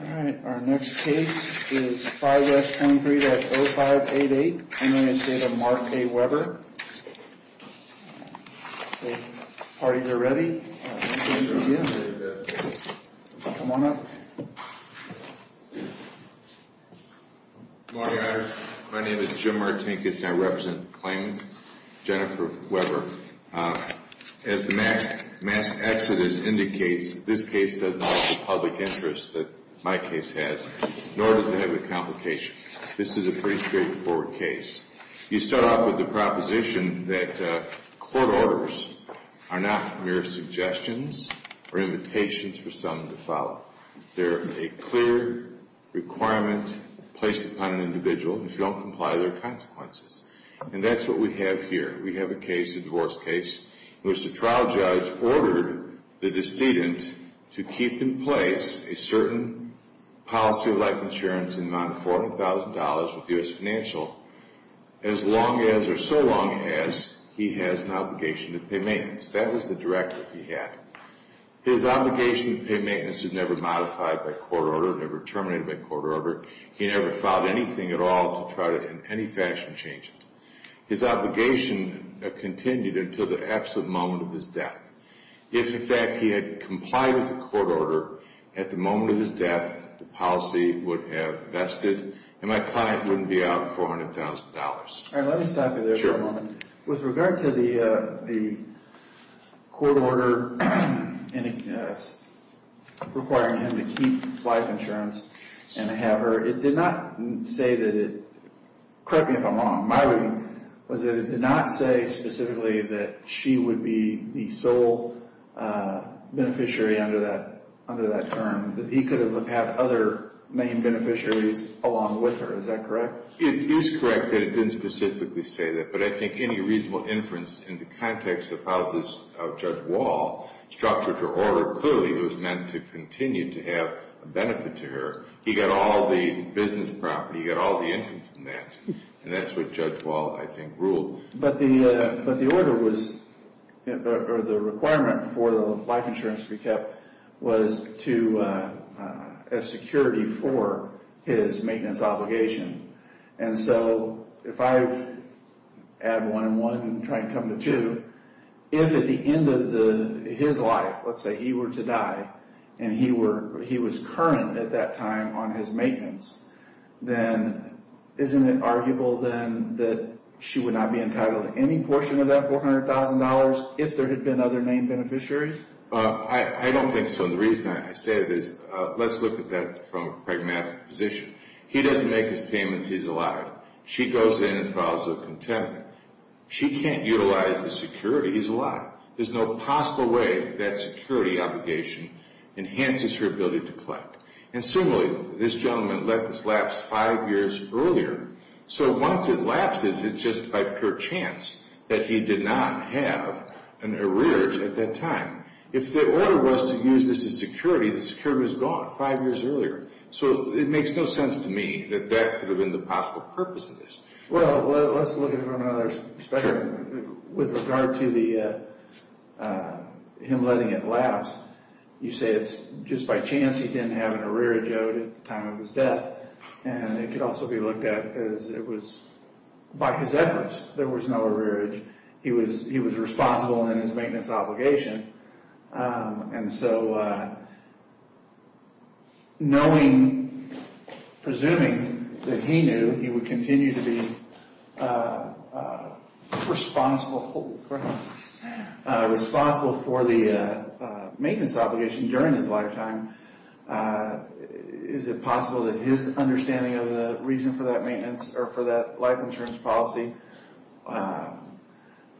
All right, our next case is 5S23-0588. I'm going to say to Mark A. Weber. Party here ready? Come on up. Good morning, my name is Jim Martinkus and I represent the claimant, Jennifer Weber. As the mass exodus indicates, this case does not have the public interest that my case has, nor does it have the complication. This is a pretty straightforward case. You start off with the proposition that court orders are not mere suggestions or invitations for someone to follow. They're a clear requirement placed upon an individual, if you don't comply, there are consequences. And that's what we have here. We have a case, a divorce case, in which the trial judge ordered the decedent to keep in place a certain policy of life insurance in the amount of $400,000 with U.S. Financial as long as, or so long as, he has an obligation to pay maintenance. That was the directive he had. His obligation to pay maintenance was never modified by court order, never terminated by court order. He never filed anything at all to try to, in any fashion, change it. His obligation continued until the absolute moment of his death. If, in fact, he had complied with the court order, at the moment of his death, the policy would have vested, and my client wouldn't be out $400,000. Let me stop you there for a moment. With regard to the court order requiring him to keep life insurance and have her, it did not say that it, correct me if I'm wrong, my reading was that it did not say specifically that she would be the sole beneficiary under that term, that he could have other main beneficiaries along with her. Is that correct? It is correct that it didn't specifically say that, but I think any reasonable inference in the context of how Judge Wall structured her order, clearly it was meant to continue to have a benefit to her. He got all the business property, he got all the income from that, and that's what Judge Wall, I think, ruled. But the order was, or the requirement for the life insurance to be kept was as security for his maintenance obligation. And so if I add one and one and try to come to two, if at the end of his life, let's say he were to die, and he was current at that time on his maintenance, then isn't it arguable then that she would not be entitled to any portion of that $400,000 if there had been other main beneficiaries? I don't think so. And the reason I say this, let's look at that from a pragmatic position. He doesn't make his payments, he's alive. She goes in and files a contempt. She can't utilize the security, he's alive. There's no possible way that security obligation enhances her ability to collect. And similarly, this gentleman let this lapse five years earlier. So once it lapses, it's just by pure chance that he did not have an arrearage at that time. If the order was to use this as security, the security was gone five years earlier. So it makes no sense to me that that could have been the possible purpose of this. Well, let's look at it from another perspective with regard to him letting it lapse. You say it's just by chance he didn't have an arrearage owed at the time of his death. And it could also be looked at as it was by his efforts. There was no arrearage. He was responsible in his maintenance obligation. And so knowing, presuming that he knew he would continue to be responsible for the maintenance obligation during his lifetime, is it possible that his understanding of the reason for that maintenance or for that life insurance policy,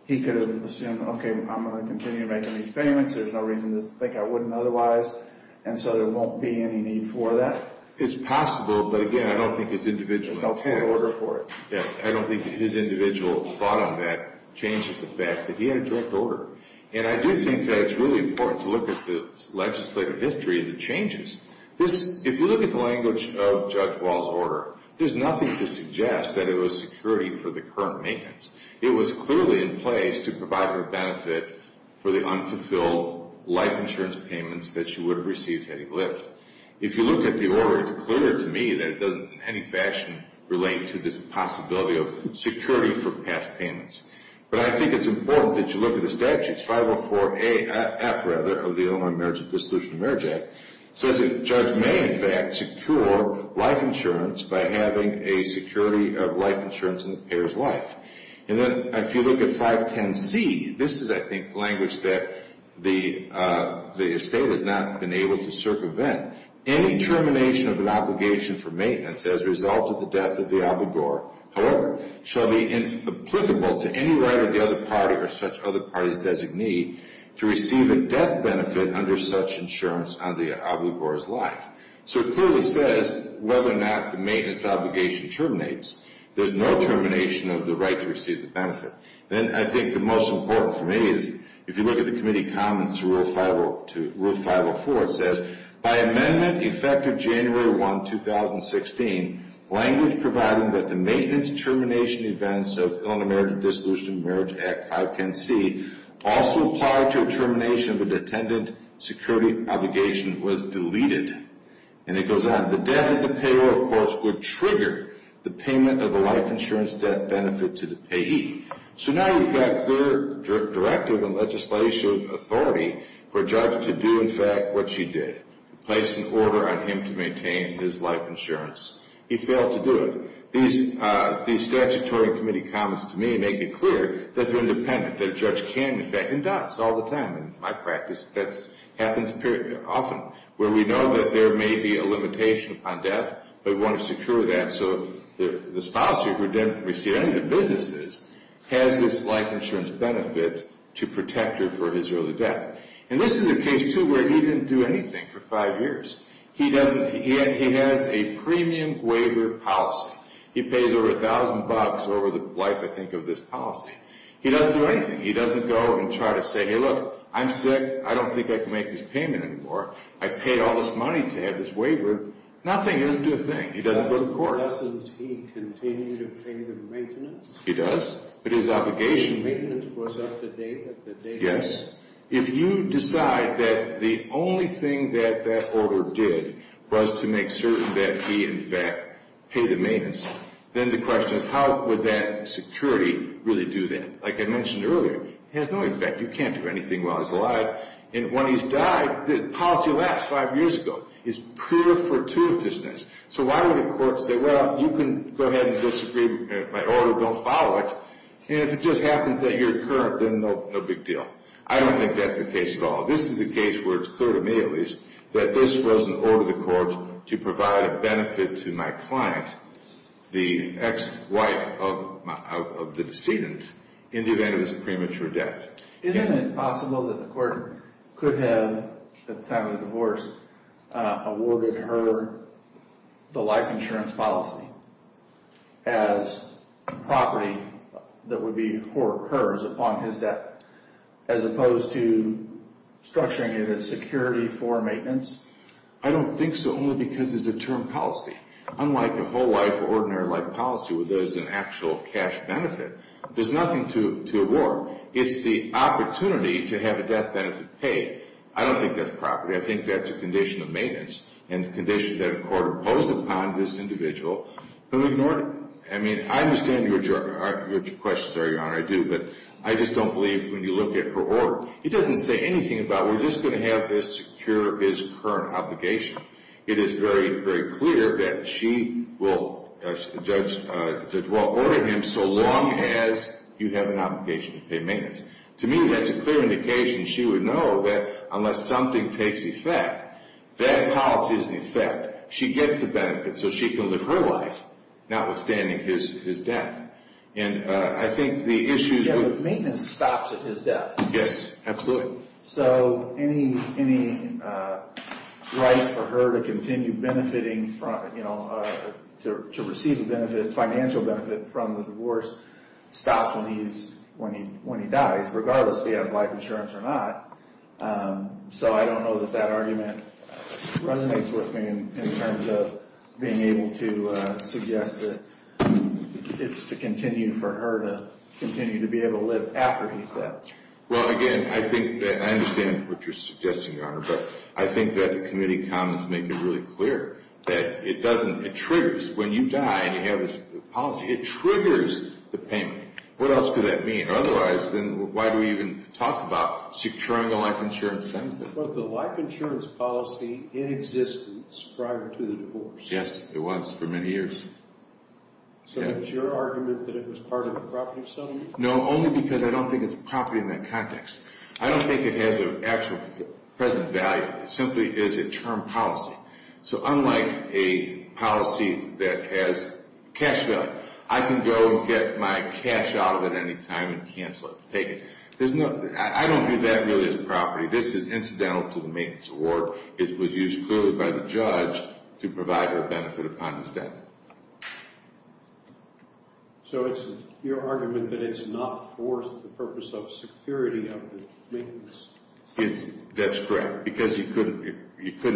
he could have assumed, okay, I'm going to continue making these payments. There's no reason to think I wouldn't otherwise. And so there won't be any need for that? It's possible, but again, I don't think his individual intent. I don't think his individual thought on that changes the fact that he had a direct order. And I do think that it's really important to look at the legislative history and the changes. If you look at the language of Judge Wall's order, there's nothing to suggest that it was security for the current maintenance. It was clearly in place to provide her benefit for the unfulfilled life insurance payments that she would have received had he lived. If you look at the order, it's clear to me that it doesn't in any fashion relate to this possibility of security for past payments. But I think it's important that you look at the statutes, 504A, F rather, of the Illinois Marriage and Dissolution of Marriage Act. So the judge may, in fact, secure life insurance by having a security of life insurance in the payer's life. And then if you look at 510C, this is, I think, language that the estate has not been able to circumvent. Any termination of an obligation for maintenance as a result of the death of the obligor, however, shall be applicable to any right of the other party or such other party's designee to receive a death benefit under such insurance on the obligor's life. So it clearly says whether or not the maintenance obligation terminates. There's no termination of the right to receive the benefit. Then I think the most important for me is, if you look at the Committee Comments to Rule 504, it says, by amendment effective January 1, 2016, language providing that the maintenance termination events of the right to a termination of an attendant security obligation was deleted. And it goes on, the death of the payer, of course, would trigger the payment of a life insurance death benefit to the payee. So now you've got clear directive and legislative authority for a judge to do, in fact, what she did, place an order on him to maintain his life insurance. He failed to do it. These statutory committee comments to me make it clear that they're independent, that a judge can, in fact, and does all the time. In my practice, that happens often, where we know that there may be a limitation upon death, but we want to secure that so the spouse who didn't receive any of the businesses has this life insurance benefit to protect her for his early death. And this is a case, too, where he didn't do anything for five years. He has a premium waiver policy. He pays over $1,000 over the life, I think, of this policy. He doesn't do anything. He doesn't go and try to say, hey, look, I'm sick. I don't think I can make this payment anymore. I paid all this money to have this waiver. Nothing. He doesn't do a thing. He doesn't go to court. Doesn't he continue to pay the maintenance? He does. But his obligation was up to date. Yes. If you decide that the only thing that that order did was to make certain that he, in fact, paid the maintenance, then the question is how would that security really do that? Like I mentioned earlier, it has no effect. You can't do anything while he's alive. And when he's died, the policy lapsed five years ago. It's pure fortuitousness. So why would a court say, well, you can go ahead and disagree with my order. Don't follow it. And if it just happens that you're current, then no big deal. I don't think that's the case at all. This is the case where it's clear to me, at least, that this was an order of the court to provide a benefit to my client, the ex-wife of the decedent, in the event of his premature death. Isn't it possible that the court could have, at the time of the divorce, awarded her the life insurance policy as property that would be hers upon his death, as opposed to structuring it as security for maintenance? I don't think so, only because it's a term policy. Unlike the whole life or ordinary life policy where there's an actual cash benefit, there's nothing to award. It's the opportunity to have a death benefit paid. I don't think that's property. I think that's a condition of maintenance and a condition that a court imposed upon this individual, but we've ignored it. I mean, I understand your questions, Your Honor, I do, but I just don't believe when you look at her order. It doesn't say anything about we're just going to have this secure his current obligation. It is very, very clear that she will, Judge Wall, order him so long as you have an obligation to pay maintenance. To me, that's a clear indication she would know that unless something takes effect, that policy is in effect. She gets the benefit, so she can live her life, notwithstanding his death. And I think the issue is- Yeah, but maintenance stops at his death. Yes, absolutely. So any right for her to continue benefiting, to receive a financial benefit from the divorce stops when he dies, regardless if he has life insurance or not. So I don't know that that argument resonates with me in terms of being able to suggest that it's to continue for her to continue to be able to live after he's dead. Well, again, I think that I understand what you're suggesting, Your Honor, but I think that the committee comments make it really clear that it doesn't- It triggers when you die and you have this policy. It triggers the payment. What else could that mean? Otherwise, then why do we even talk about securing a life insurance benefit? But the life insurance policy in existence prior to the divorce. Yes, it was for many years. So it's your argument that it was part of the property settlement? No, only because I don't think it's property in that context. I don't think it has an actual present value. It simply is a term policy. So unlike a policy that has cash value, I can go and get my cash out of it any time and cancel it, take it. I don't think that really is property. This is incidental to the maintenance award. It was used clearly by the judge to provide her benefit upon his death. So it's your argument that it's not for the purpose of security of the maintenance? That's correct, because you couldn't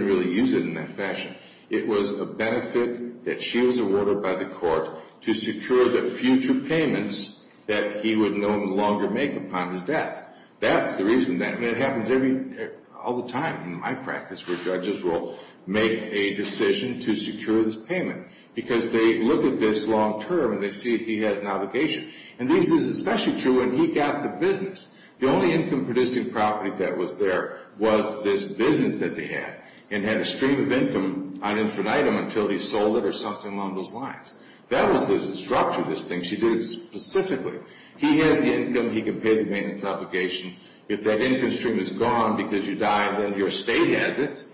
really use it in that fashion. It was a benefit that she was awarded by the court to secure the future payments that he would no longer make upon his death. That's the reason that happens all the time in my practice where judges will make a decision to secure this payment because they look at this long-term and they see that he has an obligation. And this is especially true when he got the business. The only income-producing property that was there was this business that they had and had a stream of income item for item until he sold it or something along those lines. That was the structure of this thing. She did it specifically. He has the income. He can pay the maintenance obligation. If that income stream is gone because you die and then your estate has it,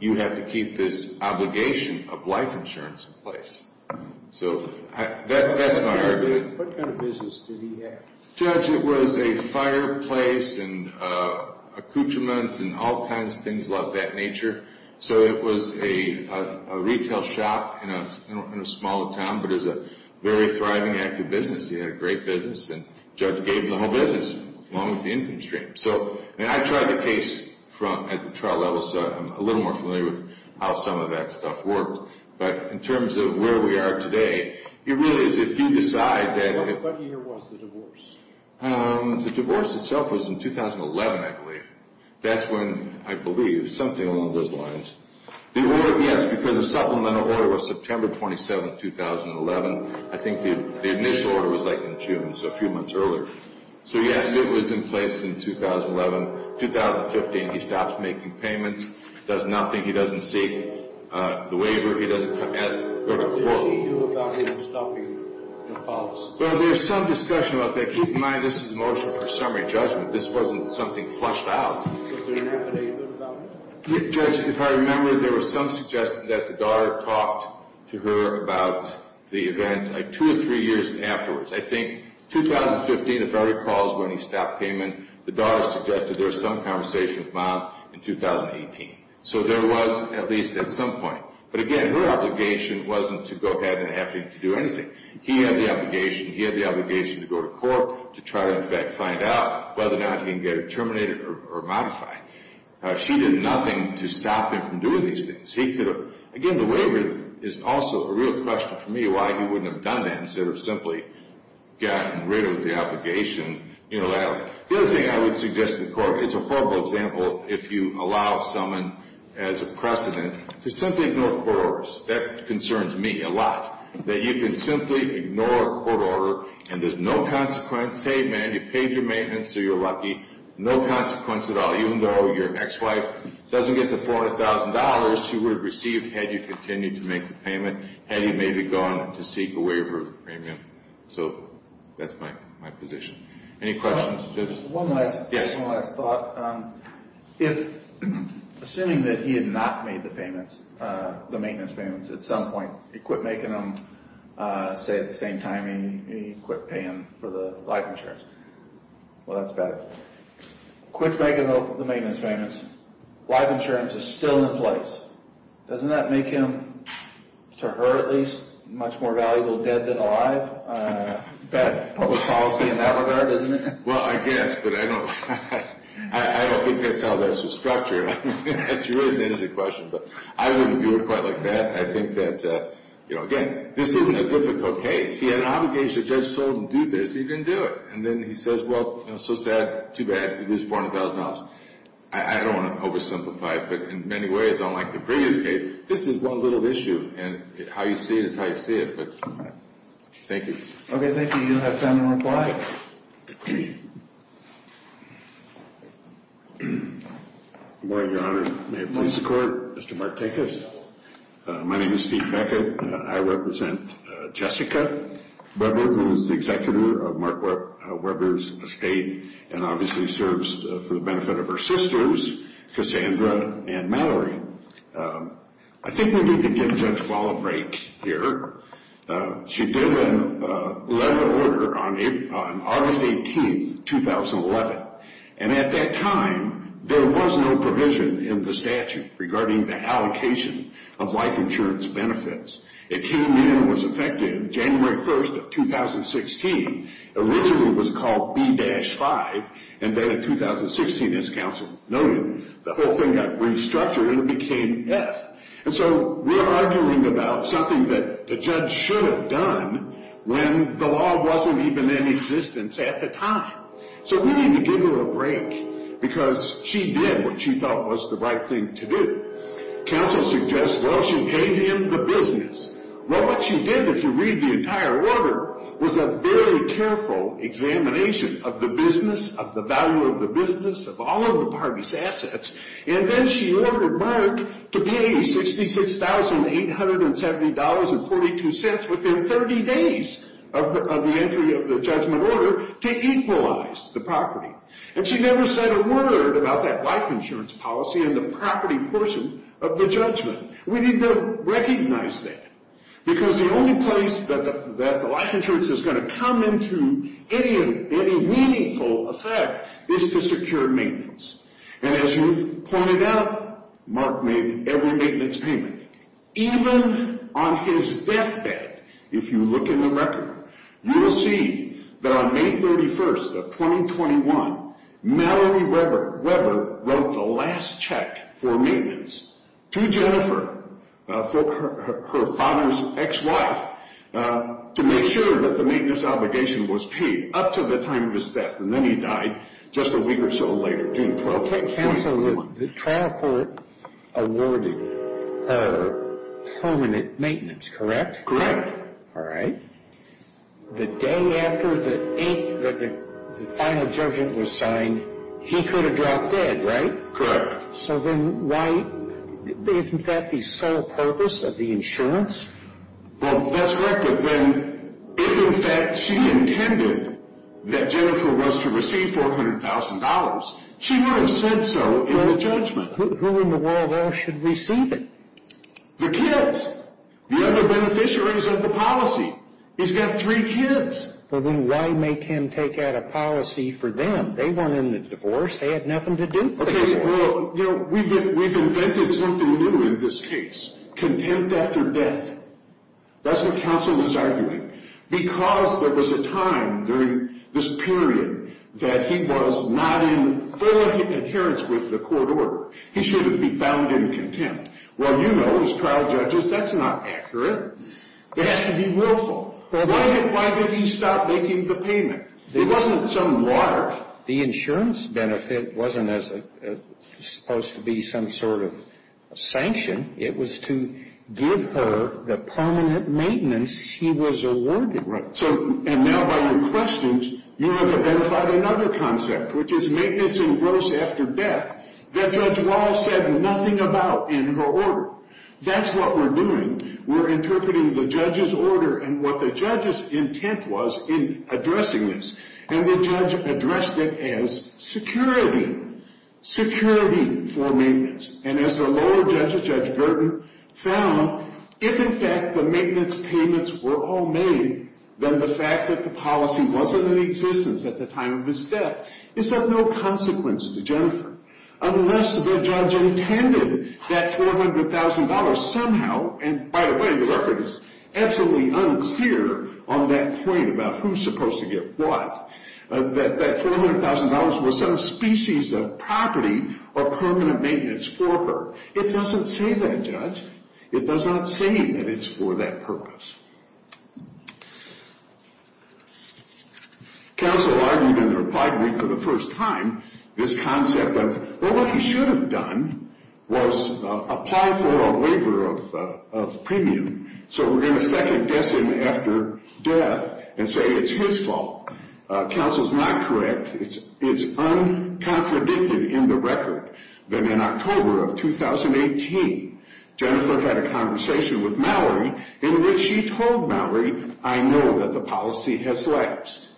you have to keep this obligation of life insurance in place. So that's my argument. What kind of business did he have? Judge, it was a fireplace and accoutrements and all kinds of things of that nature. So it was a retail shop in a small town, but it was a very thriving, active business. He had a great business, and the judge gave him the whole business along with the income stream. I tried the case at the trial level, so I'm a little more familiar with how some of that stuff worked. But in terms of where we are today, it really is if you decide that— What year was the divorce? The divorce itself was in 2011, I believe. That's when, I believe, something along those lines. The order, yes, because the supplemental order was September 27, 2011. I think the initial order was in June, so a few months earlier. So, yes, it was in place in 2011. In 2015, he stops making payments, does nothing. He doesn't seek the waiver. He doesn't— How do you feel about him stopping the divorce? Well, there's some discussion about that. Keep in mind this is a motion for summary judgment. This wasn't something flushed out. Was there an affidavit about it? Judge, if I remember, there was some suggestion that the daughter talked to her about the event, like, two or three years afterwards. I think 2015, if I recall, is when he stopped payment. The daughter suggested there was some conversation with Mom in 2018. So there was, at least at some point. But, again, her obligation wasn't to go ahead and have him do anything. He had the obligation. He had the obligation to go to court to try to, in fact, find out whether or not he can get it terminated or modified. She did nothing to stop him from doing these things. He could have— Again, the waiver is also a real question for me why he wouldn't have done that instead of simply gotten rid of the obligation unilaterally. The other thing I would suggest to the court is a horrible example, if you allow someone as a precedent to simply ignore court orders. That concerns me a lot, that you can simply ignore a court order and there's no consequence. Hey, man, you paid your maintenance, so you're lucky. No consequence at all, even though your ex-wife doesn't get the $400,000 she would have received had you continued to make the payment, had you maybe gone to seek a waiver of the premium. So that's my position. Any questions? One last thought. Assuming that he had not made the payments, the maintenance payments at some point. He quit making them, say, at the same time he quit paying for the life insurance. Well, that's better. Quits making the maintenance payments. Life insurance is still in place. Doesn't that make him, to her at least, much more valuable dead than alive? Bad public policy in that regard, isn't it? Well, I guess, but I don't think that's how that's structured. That's a really interesting question, but I wouldn't view it quite like that. I think that, again, this isn't a difficult case. He had an obligation. The judge told him to do this. He didn't do it. And then he says, well, so sad, too bad, you lose $400,000. I don't want to oversimplify it, but in many ways, unlike the previous case, this is one little issue, and how you see it is how you see it. But thank you. Okay, thank you. You have time to reply. Good morning, Your Honor. May it please the Court. Mr. Mark Tekas. My name is Steve Beckett. I represent Jessica Weber, who is the executive of Mark Weber's estate and obviously serves for the benefit of her sisters, Cassandra and Mallory. I think we need to give Judge Wall a break here. She did a letter of order on August 18th, 2011, and at that time there was no provision in the statute regarding the allocation of life insurance benefits. It came in and was effective January 1st of 2016. Originally it was called B-5, and then in 2016, as counsel noted, the whole thing got restructured and it became F. And so we're arguing about something that the judge should have done when the law wasn't even in existence at the time. So we need to give her a break because she did what she thought was the right thing to do. Counsel suggests, well, she gave him the business. Well, what she did, if you read the entire order, was a very careful examination of the business, of the value of the business, of all of the party's assets, and then she ordered Mark to pay $66,870.42 within 30 days of the entry of the judgment order to equalize the property. And she never said a word about that life insurance policy and the property portion of the judgment. We need to recognize that because the only place that the life insurance is going to come into any meaningful effect is to secure maintenance. And as you've pointed out, Mark made every maintenance payment. Even on his deathbed, if you look in the record, you will see that on May 31st of 2021, Mallory Weber wrote the last check for maintenance to Jennifer, her father's ex-wife, to make sure that the maintenance obligation was paid up to the time of his death, and then he died just a week or so later, June 12th, 2021. Counsel, the trial court awarded her permanent maintenance, correct? Correct. All right. The day after the final judgment was signed, he could have dropped dead, right? Correct. So then why, isn't that the sole purpose of the insurance? Well, that's correct, but then if in fact she intended that Jennifer was to receive $400,000, she would have said so in the judgment. Who in the world else should receive it? The kids. The other beneficiaries of the policy. He's got three kids. Well, then why make him take out a policy for them? They wanted the divorce. They had nothing to do with the divorce. Okay, well, you know, we've invented something new in this case. Contempt after death. That's what counsel is arguing. Because there was a time during this period that he was not in full adherence with the court order. He should have been found in contempt. Well, you know, as trial judges, that's not accurate. It has to be willful. Why did he stop making the payment? It wasn't some large. The insurance benefit wasn't supposed to be some sort of sanction. It was to give her the permanent maintenance she was awarded. Right. And now by your questions, you have identified another concept, which is maintenance in gross after death. That Judge Wall said nothing about in her order. That's what we're doing. We're interpreting the judge's order and what the judge's intent was in addressing this. And the judge addressed it as security. Security for maintenance. And as the lower judge, Judge Burton, found, if, in fact, the maintenance payments were all made, then the fact that the policy wasn't in existence at the time of his death is of no consequence to Jennifer, unless the judge intended that $400,000 somehow. And, by the way, the record is absolutely unclear on that point about who's supposed to get what. That $400,000 was some species of property or permanent maintenance for her. It doesn't say that, Judge. It does not say that it's for that purpose. Counsel argued in the reply brief for the first time this concept of, well, what he should have done was apply for a waiver of premium. So we're going to second-guess him after death and say it's his fault. Counsel's not correct. It's uncontradicted in the record that in October of 2018, Jennifer had a conversation with Mallory in which she told Mallory, I know that the policy has lapsed.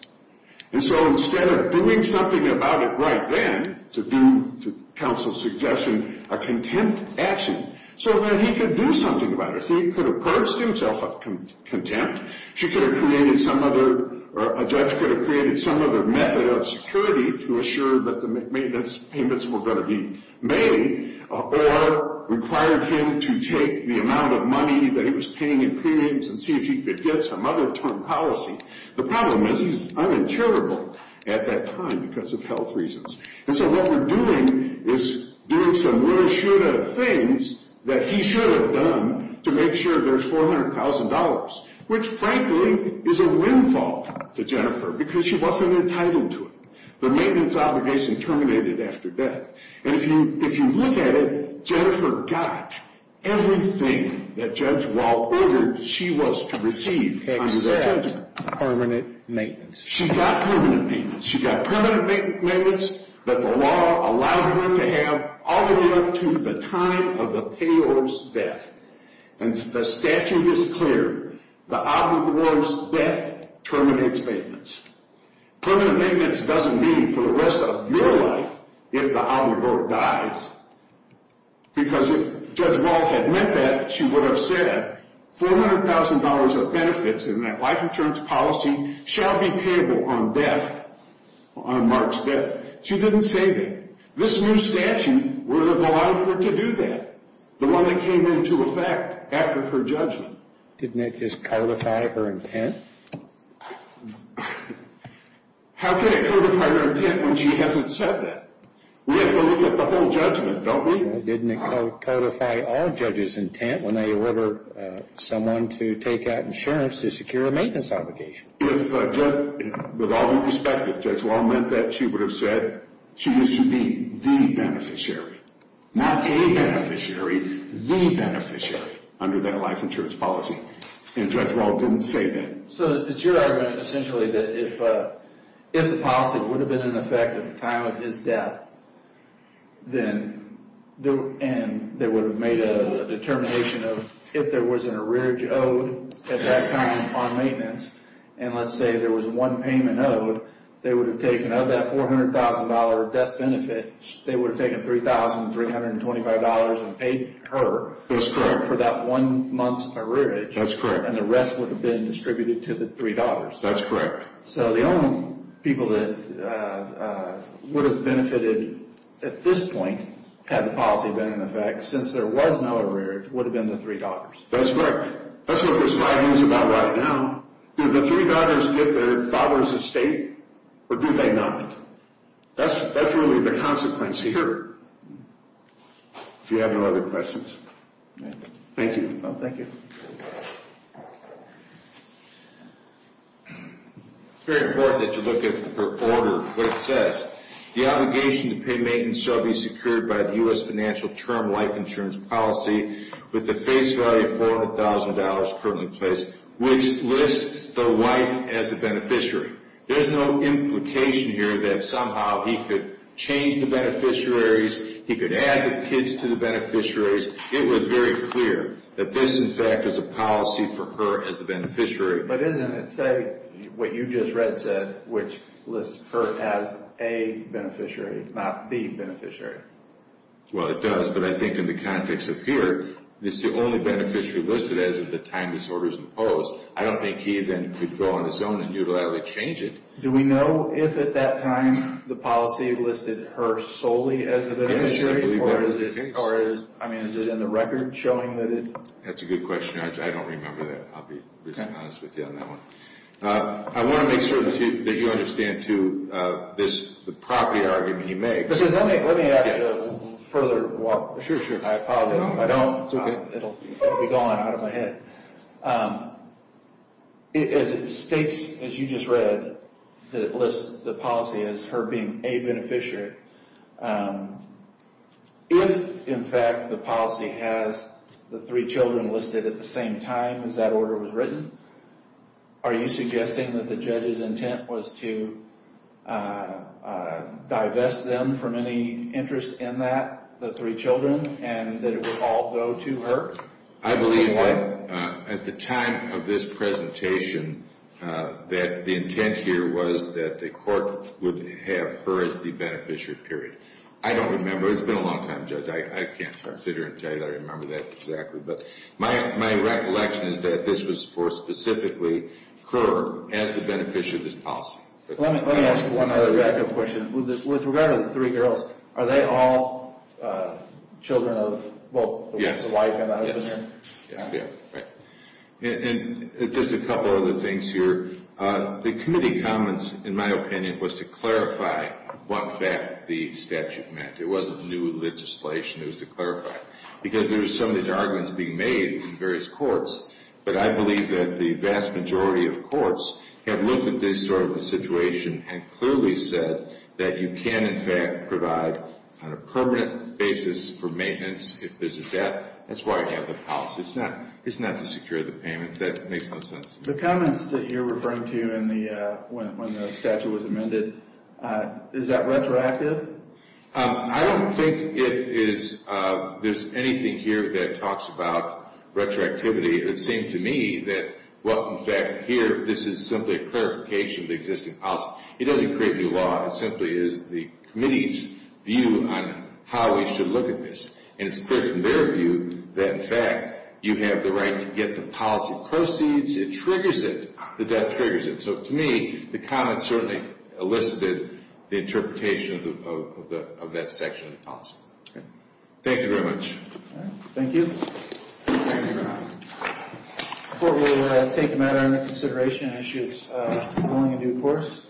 And so instead of doing something about it right then, to counsel's suggestion, a contempt action so that he could do something about it. He could have purged himself of contempt. She could have created some other, or a judge could have created some other method of security to assure that the maintenance payments were going to be made or required him to take the amount of money that he was paying in premiums and see if he could get some other term policy. The problem is he's uninsurable at that time because of health reasons. And so what we're doing is doing some really shrewd things that he should have done to make sure there's $400,000, which frankly is a windfall to Jennifer because she wasn't entitled to it. The maintenance obligation terminated after death. And if you look at it, Jennifer got everything that Judge Wall ordered she was to receive under that judgment. Except permanent maintenance. She got permanent maintenance. She got permanent maintenance that the law allowed her to have all the way up to the time of the payor's death. And the statute is clear. The obligor's death terminates maintenance. Permanent maintenance doesn't mean for the rest of your life if the obligor dies because if Judge Wall had meant that, she would have said $400,000 of benefits in that life insurance policy shall be payable on death, on Mark's death. She didn't say that. This new statute would have allowed her to do that. The one that came into effect after her judgment. Didn't it just codify her intent? How can it codify her intent when she hasn't said that? We have to look at the whole judgment, don't we? Well, didn't it codify all judges' intent when they order someone to take out insurance to secure a maintenance obligation? With all due respect, if Judge Wall meant that, she would have said she was to be the beneficiary, not a beneficiary, the beneficiary under that life insurance policy. And Judge Wall didn't say that. So it's your argument essentially that if the policy would have been in effect at the time of his death, then they would have made a determination of if there was an arrearage owed at that time on maintenance, and let's say there was one payment owed, they would have taken of that $400,000 of death benefits, they would have taken $3,325 and paid her for that one month's arrearage. That's correct. And the rest would have been distributed to the three daughters. That's correct. So the only people that would have benefited at this point had the policy been in effect, since there was no arrearage, would have been the three daughters. That's correct. That's what this slide is about right now. Did the three daughters get their father's estate, or did they not? That's really the consequence here. If you have no other questions. Thank you. Thank you. It's very important that you look at the order, what it says. The obligation to pay maintenance shall be secured by the U.S. financial term life insurance policy with the face value of $400,000 currently in place, which lists the wife as a beneficiary. There's no implication here that somehow he could change the beneficiaries, he could add the kids to the beneficiaries. It was very clear that this, in fact, is a policy for her as the beneficiary. But isn't it, say, what you just read said, which lists her as a beneficiary, not the beneficiary? Well, it does, but I think in the context of here, this is the only beneficiary listed as of the time this order is imposed. I don't think he then could go on his own and utilitarily change it. Do we know if at that time the policy listed her solely as the beneficiary, or is it in the record showing that it? That's a good question. I don't remember that. I'll be honest with you on that one. I want to make sure that you understand, too, the property argument he makes. Let me ask a further one. Sure, sure. I apologize if I don't. It's okay. It'll be gone out of my head. It states, as you just read, that it lists the policy as her being a beneficiary. If, in fact, the policy has the three children listed at the same time as that order was written, are you suggesting that the judge's intent was to divest them from any interest in that, the three children, and that it would all go to her? I believe at the time of this presentation that the intent here was that the court would have her as the beneficiary, period. I don't remember. It's been a long time, Judge. I can't sit here and tell you that I remember that exactly. But my recollection is that this was for specifically her as the beneficiary of this policy. Let me ask one other question. With regard to the three girls, are they all children of both the wife and the husband? Yes, yes. And just a couple of other things here. The committee comments, in my opinion, was to clarify what fact the statute meant. It wasn't new legislation. It was to clarify. Because there were some of these arguments being made in various courts, but I believe that the vast majority of courts have looked at this sort of a situation and clearly said that you can, in fact, provide on a permanent basis for maintenance if there's a death. That's why I have the policy. It's not to secure the payments. That makes no sense. The comments that you're referring to when the statute was amended, is that retroactive? I don't think there's anything here that talks about retroactivity. It seemed to me that, well, in fact, here this is simply a clarification of the existing policy. It doesn't create new law. It simply is the committee's view on how we should look at this. And it's clear from their view that, in fact, you have the right to get the policy proceeds. It triggers it. The death triggers it. So, to me, the comments certainly elicited the interpretation of that section of the policy. Thank you very much. Thank you. Thank you, Your Honor. The court will take the matter into consideration and issue its ruling in due course.